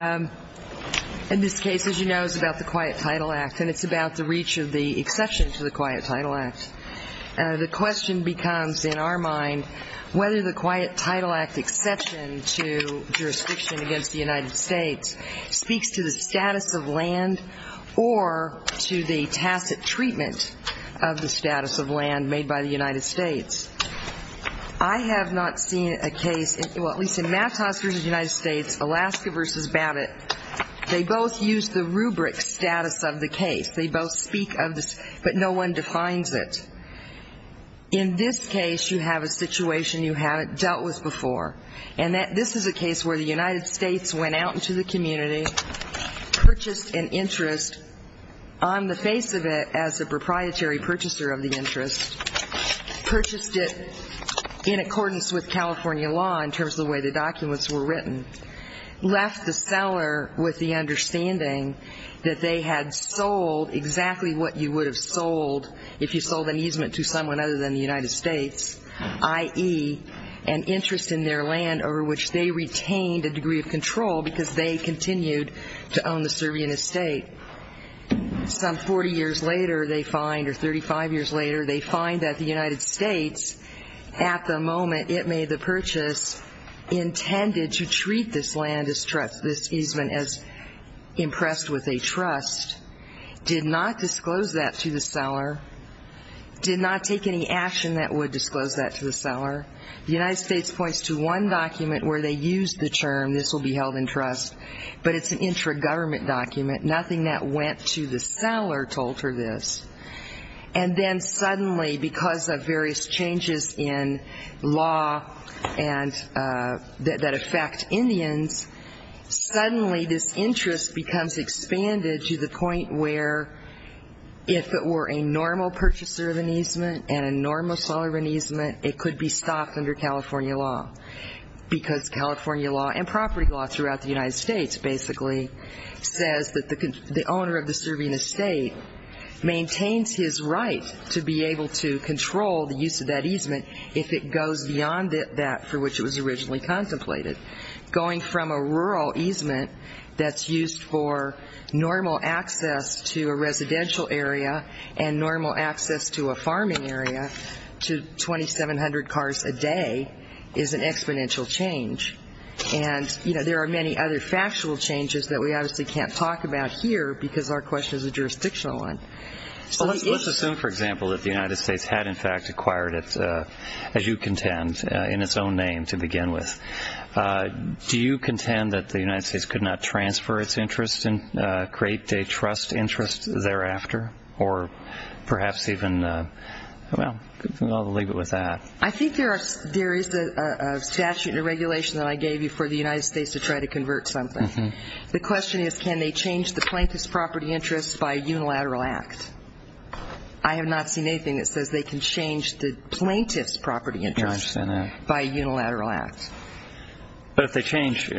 In this case, as you know, it's about the Quiet Title Act, and it's about the reach of the exception to the Quiet Title Act. The question becomes, in our mind, whether the Quiet Title Act exception to jurisdiction against the United States speaks to the status of land or to the tacit treatment of the status of land made by the United States. I have not seen a case, well, at least in Mapps v. United States, Alaska v. Babbitt, they both use the rubric status of the case. They both speak of this, but no one defines it. In this case, you have a situation you haven't dealt with before, and this is a case where the United States went out into the community, purchased an interest, on the face of it as a proprietary purchaser of the interest, purchased it in accordance with California law in terms of the way the documents were written, left the seller with the understanding that they had sold exactly what you would have sold if you sold an easement to someone other than the United States, i.e., an interest in their land over which they retained a degree of control because they continued to own the Serbian estate. Some 40 years later, they find, or 35 years later, they find that the United States, at the moment it made the purchase, intended to treat this land, this easement, as impressed with a trust, did not disclose that to the seller, did not take any action that would disclose that to the seller. The United States points to one document where they use the term, this will be held in trust, but it's an intra-government document, nothing that went to the seller told her this. And then suddenly, because of various changes in law that affect Indians, suddenly this interest becomes expanded to the point where if it were a normal purchaser of an easement and a normal seller of an easement, it could be stopped under California law because California law and property law throughout the United States basically says that the owner of the Serbian estate maintains his right to be able to control the use of that easement if it goes beyond that for which it was originally contemplated. Going from a rural easement that's used for normal access to a residential area and normal access to a farming area to 2,700 cars a day is an exponential change. And, you know, there are many other factual changes that we obviously can't talk about here because our question is a jurisdictional one. Let's assume, for example, that the United States had in fact acquired it, as you contend, in its own name to begin with. Do you contend that the United States could not transfer its interest and create a trust interest thereafter? Or perhaps even, well, I'll leave it with that. I think there is a statute and a regulation that I gave you for the United States to try to convert something. The question is can they change the plaintiff's property interest by a unilateral act? I have not seen anything that says they can change the plaintiff's property interest by a unilateral act. But if they change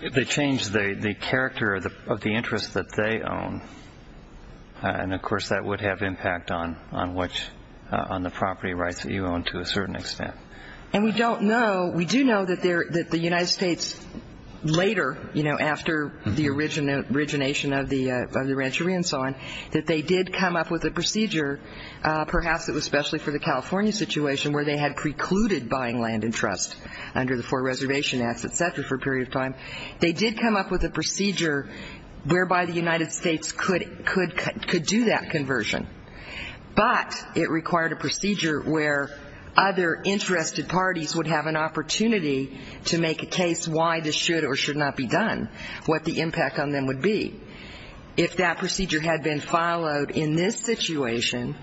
the character of the interest that they own, then, of course, that would have impact on the property rights that you own to a certain extent. And we don't know, we do know that the United States later, you know, after the origination of the rancheria and so on, that they did come up with a procedure, perhaps it was especially for the California situation, where they had precluded buying land and trust under the Four Reservation Acts, et cetera, for a period of time. They did come up with a procedure whereby the United States could do that conversion. But it required a procedure where other interested parties would have an opportunity to make a case as to why this should or should not be done, what the impact on them would be. If that procedure had been followed in this situation,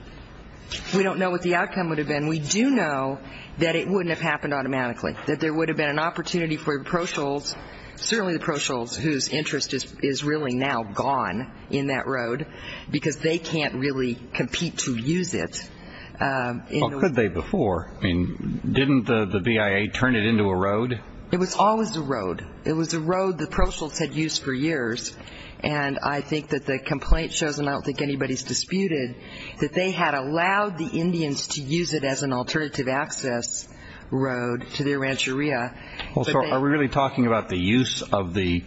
we don't know what the outcome would have been. We do know that it wouldn't have happened automatically, that there would have been an opportunity for the pro-shuls, certainly the pro-shuls whose interest is really now gone in that road, because they can't really compete to use it. Well, could they before? I mean, didn't the BIA turn it into a road? It was always a road. It was a road the pro-shuls had used for years. And I think that the complaint shows, and I don't think anybody's disputed, that they had allowed the Indians to use it as an alternative access road to their rancheria. Are we really talking about the use of the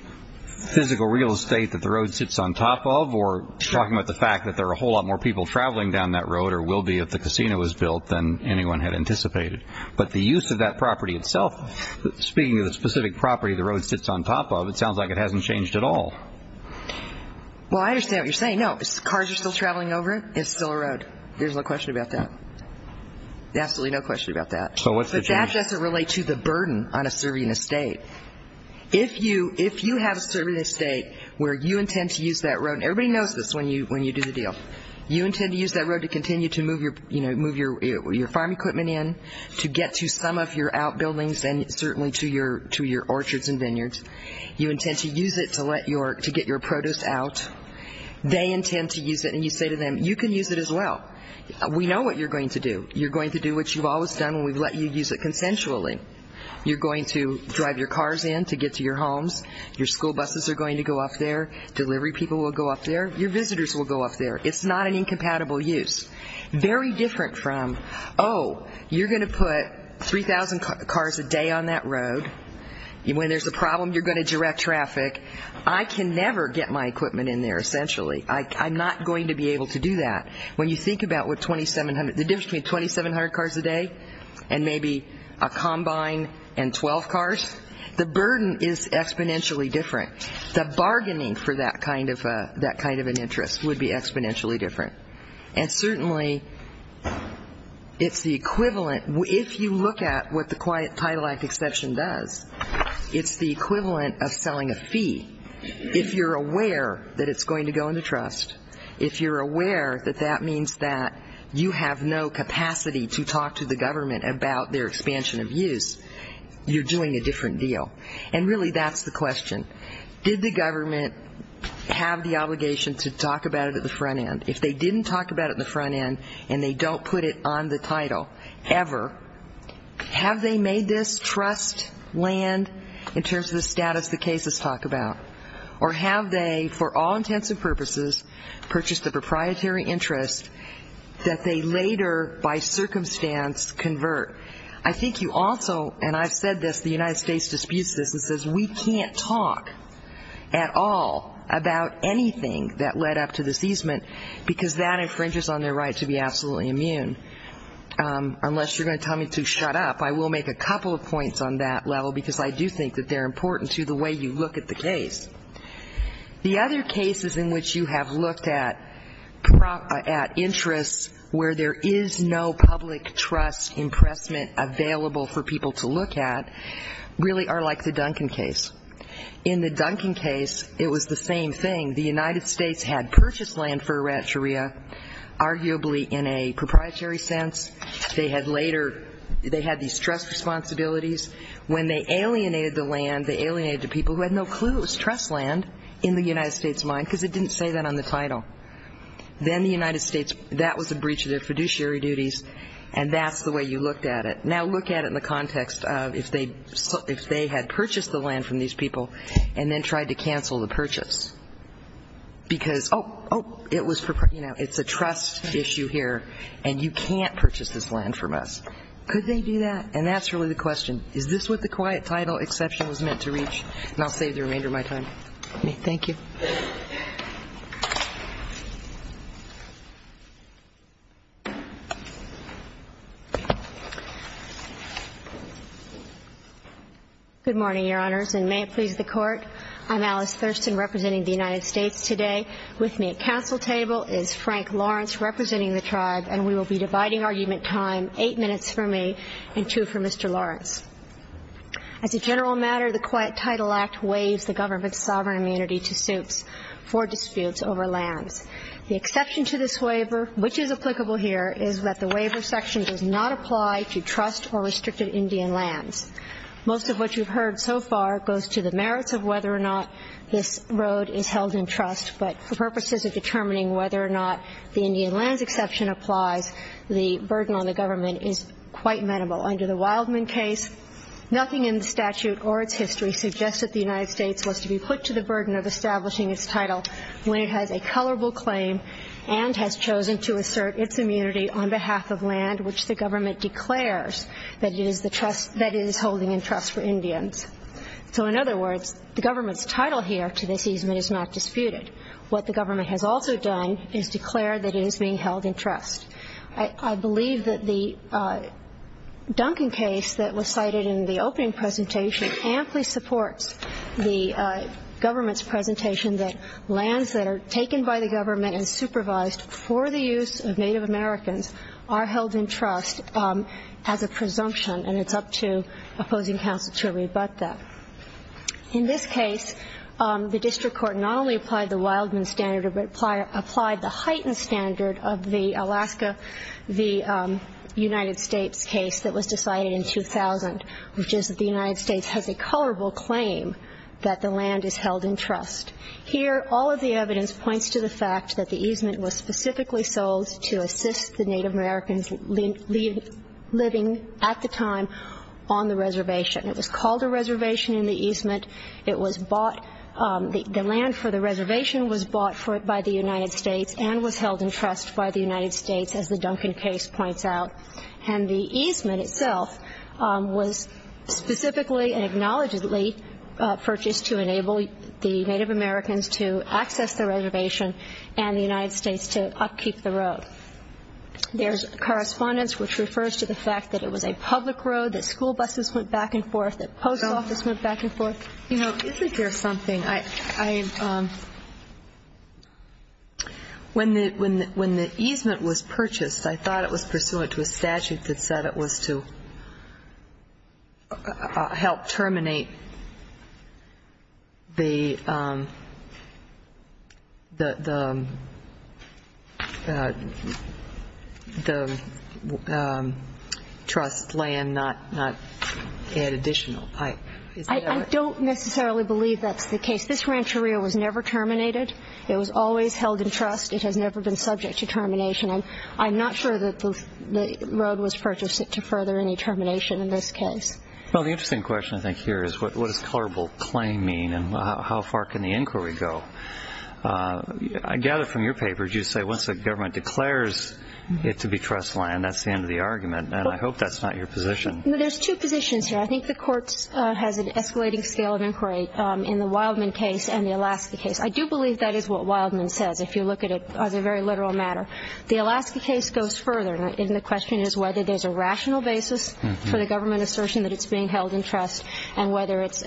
physical real estate that the road sits on top of, or talking about the fact that there are a whole lot more people traveling down that road than there would or will be if the casino was built than anyone had anticipated. But the use of that property itself, speaking of the specific property the road sits on top of, it sounds like it hasn't changed at all. Well, I understand what you're saying. No, cars are still traveling over it. It's still a road. There's no question about that. Absolutely no question about that. So what's the change? That doesn't relate to the burden on a serving estate. If you have a serving estate where you intend to use that road, and everybody knows this when you do the deal, you intend to use that road to continue to move your farm equipment in, to get to some of your outbuildings and certainly to your orchards and vineyards. You intend to use it to get your produce out. They intend to use it, and you say to them, you can use it as well. We know what you're going to do. You're going to do what you've always done when we've let you use it consensually. You're going to drive your cars in to get to your homes. Your school buses are going to go up there. Delivery people will go up there. Your visitors will go up there. It's not an incompatible use. Very different from, oh, you're going to put 3,000 cars a day on that road. When there's a problem, you're going to direct traffic. I can never get my equipment in there, essentially. I'm not going to be able to do that. When you think about the difference between 2,700 cars a day and maybe a combine and 12 cars, the burden is exponentially different. The bargaining for that kind of an interest would be exponentially different. And certainly it's the equivalent. If you look at what the Quiet Title Act exception does, it's the equivalent of selling a fee. If you're aware that it's going to go into trust, if you're aware that that means that you have no capacity to talk to the government about their expansion of use, you're doing a different deal. And really that's the question. Did the government have the obligation to talk about it at the front end? If they didn't talk about it at the front end and they don't put it on the title ever, have they made this trust land in terms of the status the cases talk about? Or have they, for all intents and purposes, purchased a proprietary interest that they later by circumstance convert? I think you also, and I've said this, the United States disputes this and says we can't talk at all about anything that led up to this easement because that infringes on their right to be absolutely immune, unless you're going to tell me to shut up. I will make a couple of points on that level because I do think that they're important to the way you look at the case. The other cases in which you have looked at interests where there is no public trust impressment available for people to look at really are like the Duncan case. In the Duncan case, it was the same thing. The United States had purchased land for Eritrea, arguably in a proprietary sense. They had these trust responsibilities. When they alienated the land, they alienated the people who had no clue it was trust land in the United States' mind because it didn't say that on the title. Then the United States, that was a breach of their fiduciary duties, and that's the way you looked at it. Now look at it in the context of if they had purchased the land from these people and then tried to cancel the purchase because, oh, oh, it's a trust issue here, and you can't purchase this land from us. Could they do that? And that's really the question. Is this what the quiet title exception was meant to reach? And I'll save the remainder of my time. Thank you. Ms. Thurston. Good morning, Your Honors, and may it please the Court. I'm Alice Thurston representing the United States today. With me at council table is Frank Lawrence representing the Tribe, and we will be dividing argument time, eight minutes for me and two for Mr. Lawrence. As a general matter, the Quiet Title Act waives the government's sovereign immunity to suits for disputes over lands. The exception to this waiver, which is applicable here, is that the waiver section does not apply to trust or restricted Indian lands. Most of what you've heard so far goes to the merits of whether or not this road is held in trust, but for purposes of determining whether or not the Indian lands exception applies, the burden on the government is quite minimal. Under the Wildman case, nothing in the statute or its history suggests that the United States was to be put to the burden of establishing its title when it has a colorable claim and has chosen to assert its immunity on behalf of land, which the government declares that it is holding in trust for Indians. So in other words, the government's title here to this easement is not disputed. What the government has also done is declare that it is being held in trust. I believe that the Duncan case that was cited in the opening presentation amply supports the government's presentation that lands that are taken by the government and supervised for the use of Native Americans are held in trust as a presumption, and it's up to opposing counsel to rebut that. In this case, the district court not only applied the Wildman standard but applied the heightened standard of the Alaska v. United States case that was decided in 2000, which is that the United States has a colorable claim that the land is held in trust. Here, all of the evidence points to the fact that the easement was specifically sold to assist the Native Americans living at the time on the reservation. It was called a reservation in the easement. The land for the reservation was bought by the United States and was held in trust by the United States, as the Duncan case points out. And the easement itself was specifically and acknowledgedly purchased to enable the Native Americans to access the reservation and the United States to upkeep the road. There's correspondence which refers to the fact that it was a public road, that school buses went back and forth, that post offices went back and forth. You know, isn't there something? When the easement was purchased, I thought it was pursuant to a statute that said it was to help terminate the trust land, not add additional. I don't necessarily believe that's the case. This rancheria was never terminated. It was always held in trust. It has never been subject to termination. And I'm not sure that the road was purchased to further any termination in this case. Well, the interesting question I think here is what does colorable claim mean and how far can the inquiry go? I gather from your papers you say once the government declares it to be trust land, that's the end of the argument. And I hope that's not your position. There's two positions here. I think the court has an escalating scale of inquiry in the Wildman case and the Alaska case. I do believe that is what Wildman says, if you look at it as a very literal matter. The Alaska case goes further, and the question is whether there's a rational basis for the government assertion that it's being held in trust and whether it's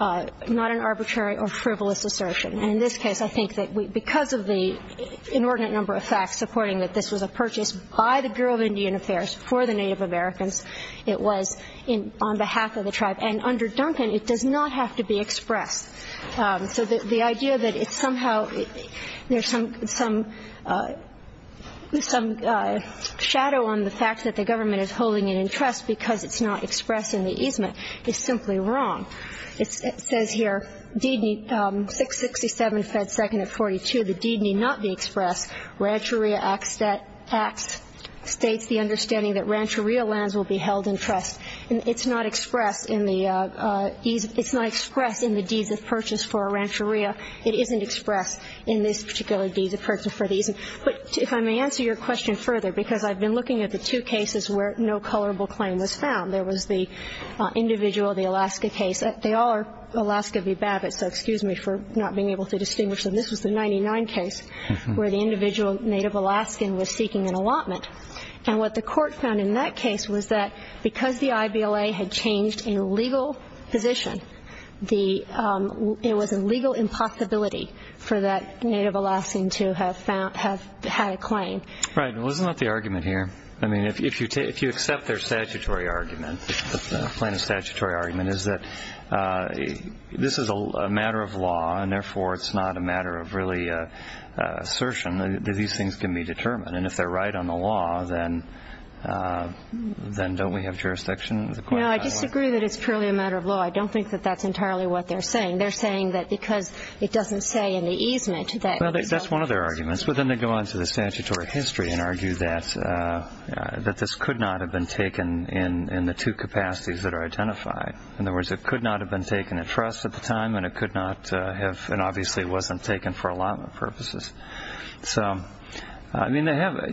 not an arbitrary or frivolous assertion. And in this case, I think that because of the inordinate number of facts supporting that this was a purchase by the Bureau of Indian Affairs for the Native Americans, it was on behalf of the tribe. And under Duncan, it does not have to be expressed. So the idea that it's somehow – there's some shadow on the fact that the government is holding it in trust because it's not expressed in the easement is simply wrong. It says here, 667 Fed 2nd of 42, the deed need not be expressed. Rancheria Act states the understanding that rancheria lands will be held in trust. And it's not expressed in the deeds of purchase for a rancheria. It isn't expressed in this particular deeds of purchase for the easement. But if I may answer your question further, because I've been looking at the two cases where no colorable claim was found. There was the individual, the Alaska case. They all are Alaska v. Babbitt, so excuse me for not being able to distinguish them. This was the 99 case where the individual Native Alaskan was seeking an allotment. And what the court found in that case was that because the IBLA had changed a legal position, it was a legal impossibility for that Native Alaskan to have had a claim. Right. Well, isn't that the argument here? I mean, if you accept their statutory argument, the plaintiff's statutory argument is that this is a matter of law, and therefore it's not a matter of really assertion that these things can be determined. And if they're right on the law, then don't we have jurisdiction? No, I disagree that it's purely a matter of law. I don't think that that's entirely what they're saying. They're saying that because it doesn't say in the easement that it was allotment. Well, that's one of their arguments. But then they go on to the statutory history and argue that this could not have been taken in the two capacities that are identified. In other words, it could not have been taken at trust at the time, and it obviously wasn't taken for allotment purposes. So, I mean, they have a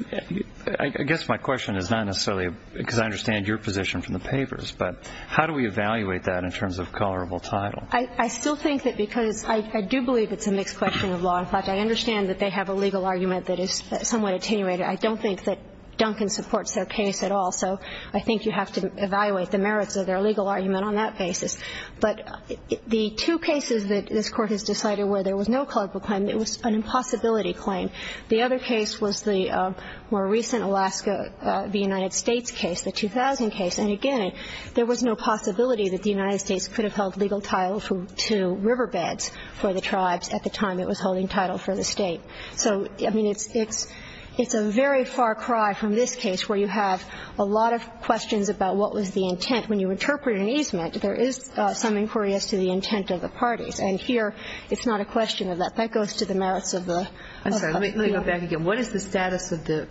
– I guess my question is not necessarily because I understand your position from the papers, but how do we evaluate that in terms of colorable title? I still think that because I do believe it's a mixed question of law and fact. I understand that they have a legal argument that is somewhat attenuated. I don't think that Duncan supports their case at all, so I think you have to evaluate the merits of their legal argument on that basis. But the two cases that this Court has decided where there was no colorable claim, it was an impossibility claim. The other case was the more recent Alaska, the United States case, the 2000 case. And, again, there was no possibility that the United States could have held legal title to riverbeds for the tribes at the time it was holding title for the State. So, I mean, it's a very far cry from this case where you have a lot of questions about what was the intent. When you interpret an easement, there is some inquiry as to the intent of the parties. And here it's not a question of that. That goes to the merits of the law. I'm sorry. Let me go back again. What is the status of the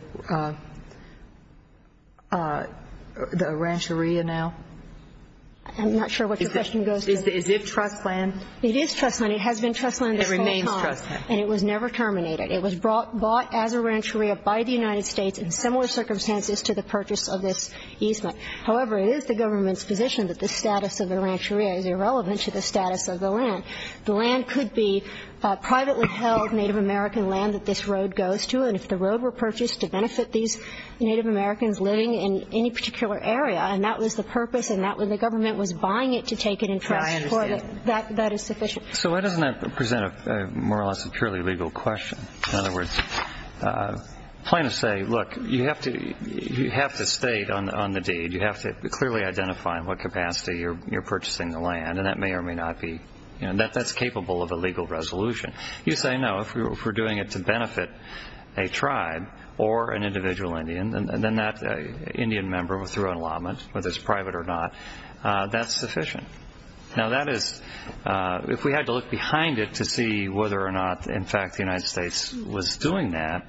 rancheria now? I'm not sure what your question goes to. Is it trust land? It is trust land. It has been trust land this whole time. It remains trust land. And it was never terminated. It was bought as a rancheria by the United States in similar circumstances to the purchase of this easement. However, it is the government's position that the status of the rancheria is irrelevant to the status of the land. The land could be privately held Native American land that this road goes to. And if the road were purchased to benefit these Native Americans living in any particular area, and that was the purpose and that was the government was buying it to take it in trust. I understand. That is sufficient. So why doesn't that present more or less a purely legal question? In other words, plaintiffs say, look, you have to state on the deed. You have to clearly identify in what capacity you're purchasing the land. And that may or may not be. That's capable of a legal resolution. You say, no, if we're doing it to benefit a tribe or an individual Indian, then that Indian member through an allotment, whether it's private or not, that's sufficient. Now, that is, if we had to look behind it to see whether or not, in fact, the United States was doing that,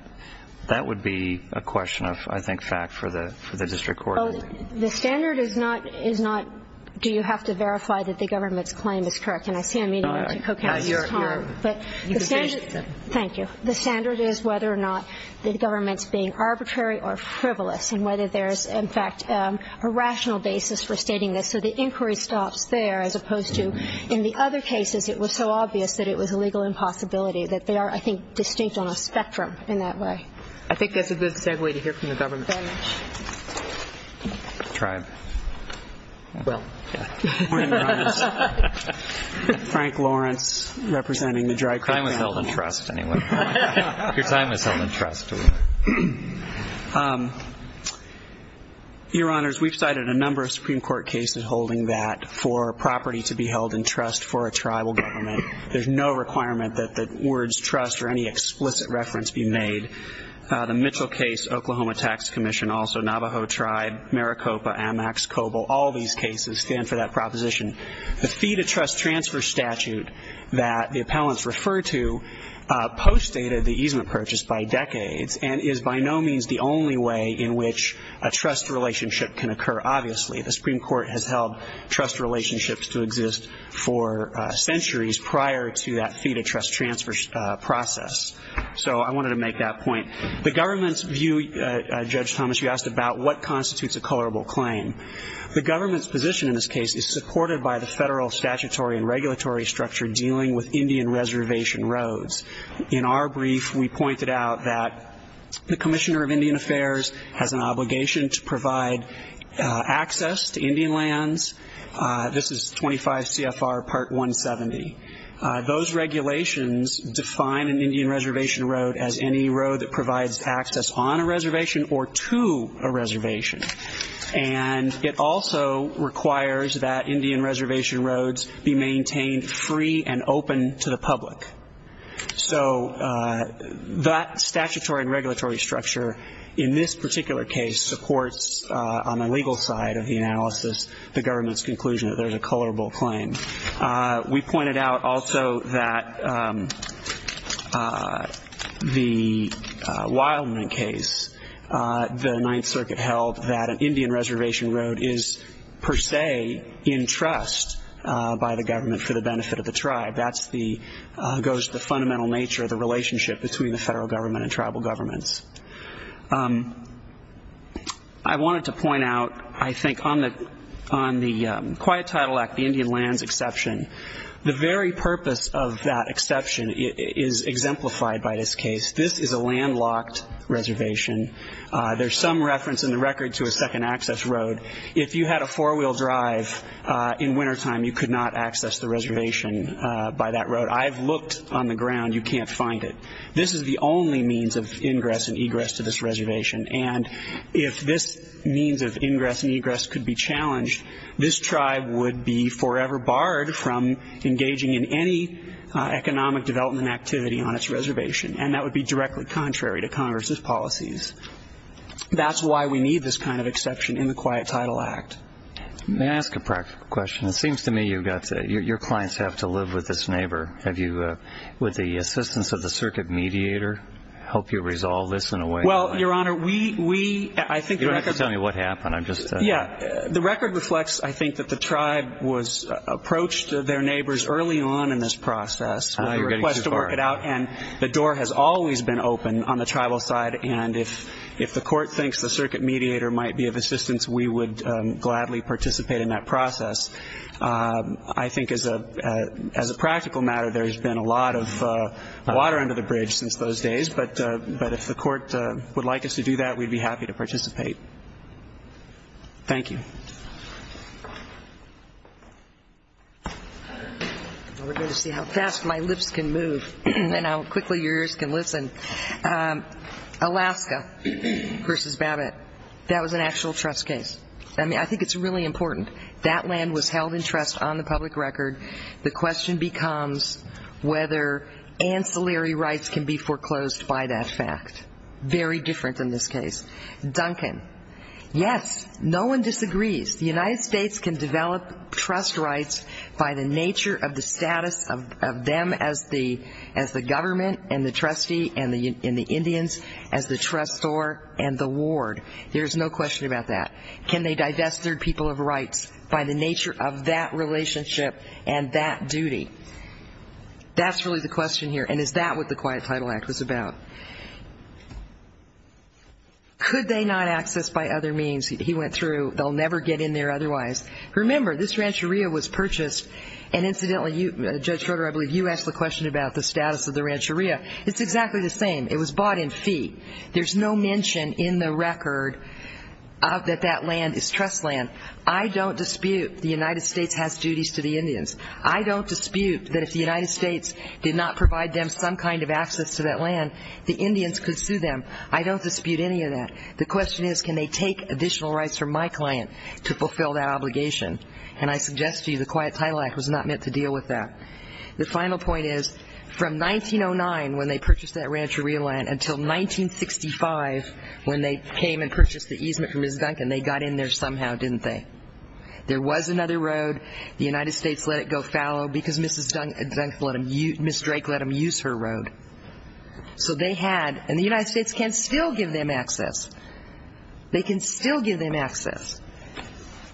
that would be a question of, I think, fact for the district court. Well, the standard is not, is not do you have to verify that the government's claim is correct. And I see I'm eating into Co-Counsel's time. But the standard. Thank you. The standard is whether or not the government's being arbitrary or frivolous and whether there's, in fact, a rational basis for stating this. So the inquiry stops there as opposed to in the other cases it was so obvious that it was a legal impossibility, that they are, I think, distinct on a spectrum in that way. I think that's a good segue to hear from the government. Tribe. Well, yeah. Frank Lawrence, representing the tribe. Time was held in trust, anyway. Your time was held in trust. Your Honors, we've cited a number of Supreme Court cases holding that for property to be held in trust for a tribal government. There's no requirement that the words trust or any explicit reference be made. The Mitchell case, Oklahoma Tax Commission, also Navajo Tribe, Maricopa, Amex, Coble, all these cases stand for that proposition. The fee-to-trust transfer statute that the appellants refer to postdated the easement purchase by decades and is by no means the only way in which a trust relationship can occur, obviously. The Supreme Court has held trust relationships to exist for centuries prior to that fee-to-trust transfer process. So I wanted to make that point. The government's view, Judge Thomas, you asked about what constitutes a colorable claim. The government's position in this case is supported by the federal statutory and regulatory structure dealing with Indian reservation roads. In our brief, we pointed out that the Commissioner of Indian Affairs has an obligation to provide access to Indian lands. This is 25 CFR Part 170. Those regulations define an Indian reservation road as any road that provides access on a reservation or to a reservation. And it also requires that Indian reservation roads be maintained free and open to the public. So that statutory and regulatory structure in this particular case supports, on the legal side of the analysis, the government's conclusion that there's a colorable claim. We pointed out also that the Wildman case, the Ninth Circuit held, that an Indian reservation road is per se in trust by the government for the benefit of the tribe. That goes to the fundamental nature of the relationship between the federal government and tribal governments. I wanted to point out, I think, on the Quiet Title Act, the Indian lands exception, the very purpose of that exception is exemplified by this case. This is a landlocked reservation. There's some reference in the record to a second access road. If you had a four-wheel drive in wintertime, you could not access the reservation by that road. I've looked on the ground. You can't find it. This is the only means of ingress and egress to this reservation, and if this means of ingress and egress could be challenged, this tribe would be forever barred from engaging in any economic development activity on its reservation. And that would be directly contrary to Congress's policies. That's why we need this kind of exception in the Quiet Title Act. May I ask a practical question? It seems to me your clients have to live with this neighbor. Would the assistance of the circuit mediator help you resolve this in a way? Well, Your Honor, we, I think the record. You don't have to tell me what happened. I'm just. Yeah. The record reflects, I think, that the tribe was approached, their neighbors early on in this process. You're getting too far. And the door has always been open on the tribal side, and if the court thinks the circuit mediator might be of assistance, we would gladly participate in that process. I think as a practical matter, there's been a lot of water under the bridge since those days, but if the court would like us to do that, we'd be happy to participate. Thank you. We're going to see how fast my lips can move and how quickly yours can listen. Alaska versus Babbitt, that was an actual trust case. I mean, I think it's really important. That land was held in trust on the public record. The question becomes whether ancillary rights can be foreclosed by that fact. Very different in this case. Duncan. Yes, no one disagrees. The United States can develop trust rights by the nature of the status of them as the government and the trustee and the Indians as the trustor and the ward. There is no question about that. Can they divest their people of rights by the nature of that relationship and that duty? That's really the question here, and is that what the Quiet Title Act was about? Could they not access by other means? He went through, they'll never get in there otherwise. Remember, this rancheria was purchased, and incidentally, Judge Schroeder, I believe you asked the question about the status of the rancheria. It's exactly the same. It was bought in fee. There's no mention in the record that that land is trust land. I don't dispute the United States has duties to the Indians. I don't dispute that if the United States did not provide them some kind of access to that land, the Indians could sue them. I don't dispute any of that. The question is can they take additional rights from my client to fulfill that obligation, and I suggest to you the Quiet Title Act was not meant to deal with that. The final point is from 1909 when they purchased that rancheria land until 1965 when they came and purchased the easement from Ms. Duncan, they got in there somehow, didn't they? There was another road. The United States let it go fallow because Ms. Drake let them use her road. So they had, and the United States can still give them access. They can still give them access.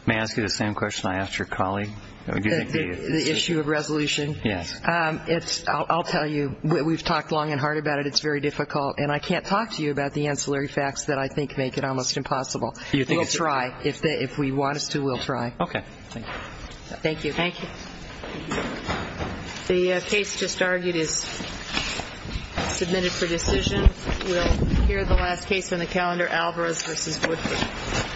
May I ask you the same question I asked your colleague? The issue of resolution? Yes. I'll tell you, we've talked long and hard about it. It's very difficult, and I can't talk to you about the ancillary facts that I think make it almost impossible. We'll try. If we want us to, we'll try. Okay. Thank you. Thank you. The case just argued is submitted for decision. We'll hear the last case on the calendar, Alvarez v. Woodford. Thank you. Thank you.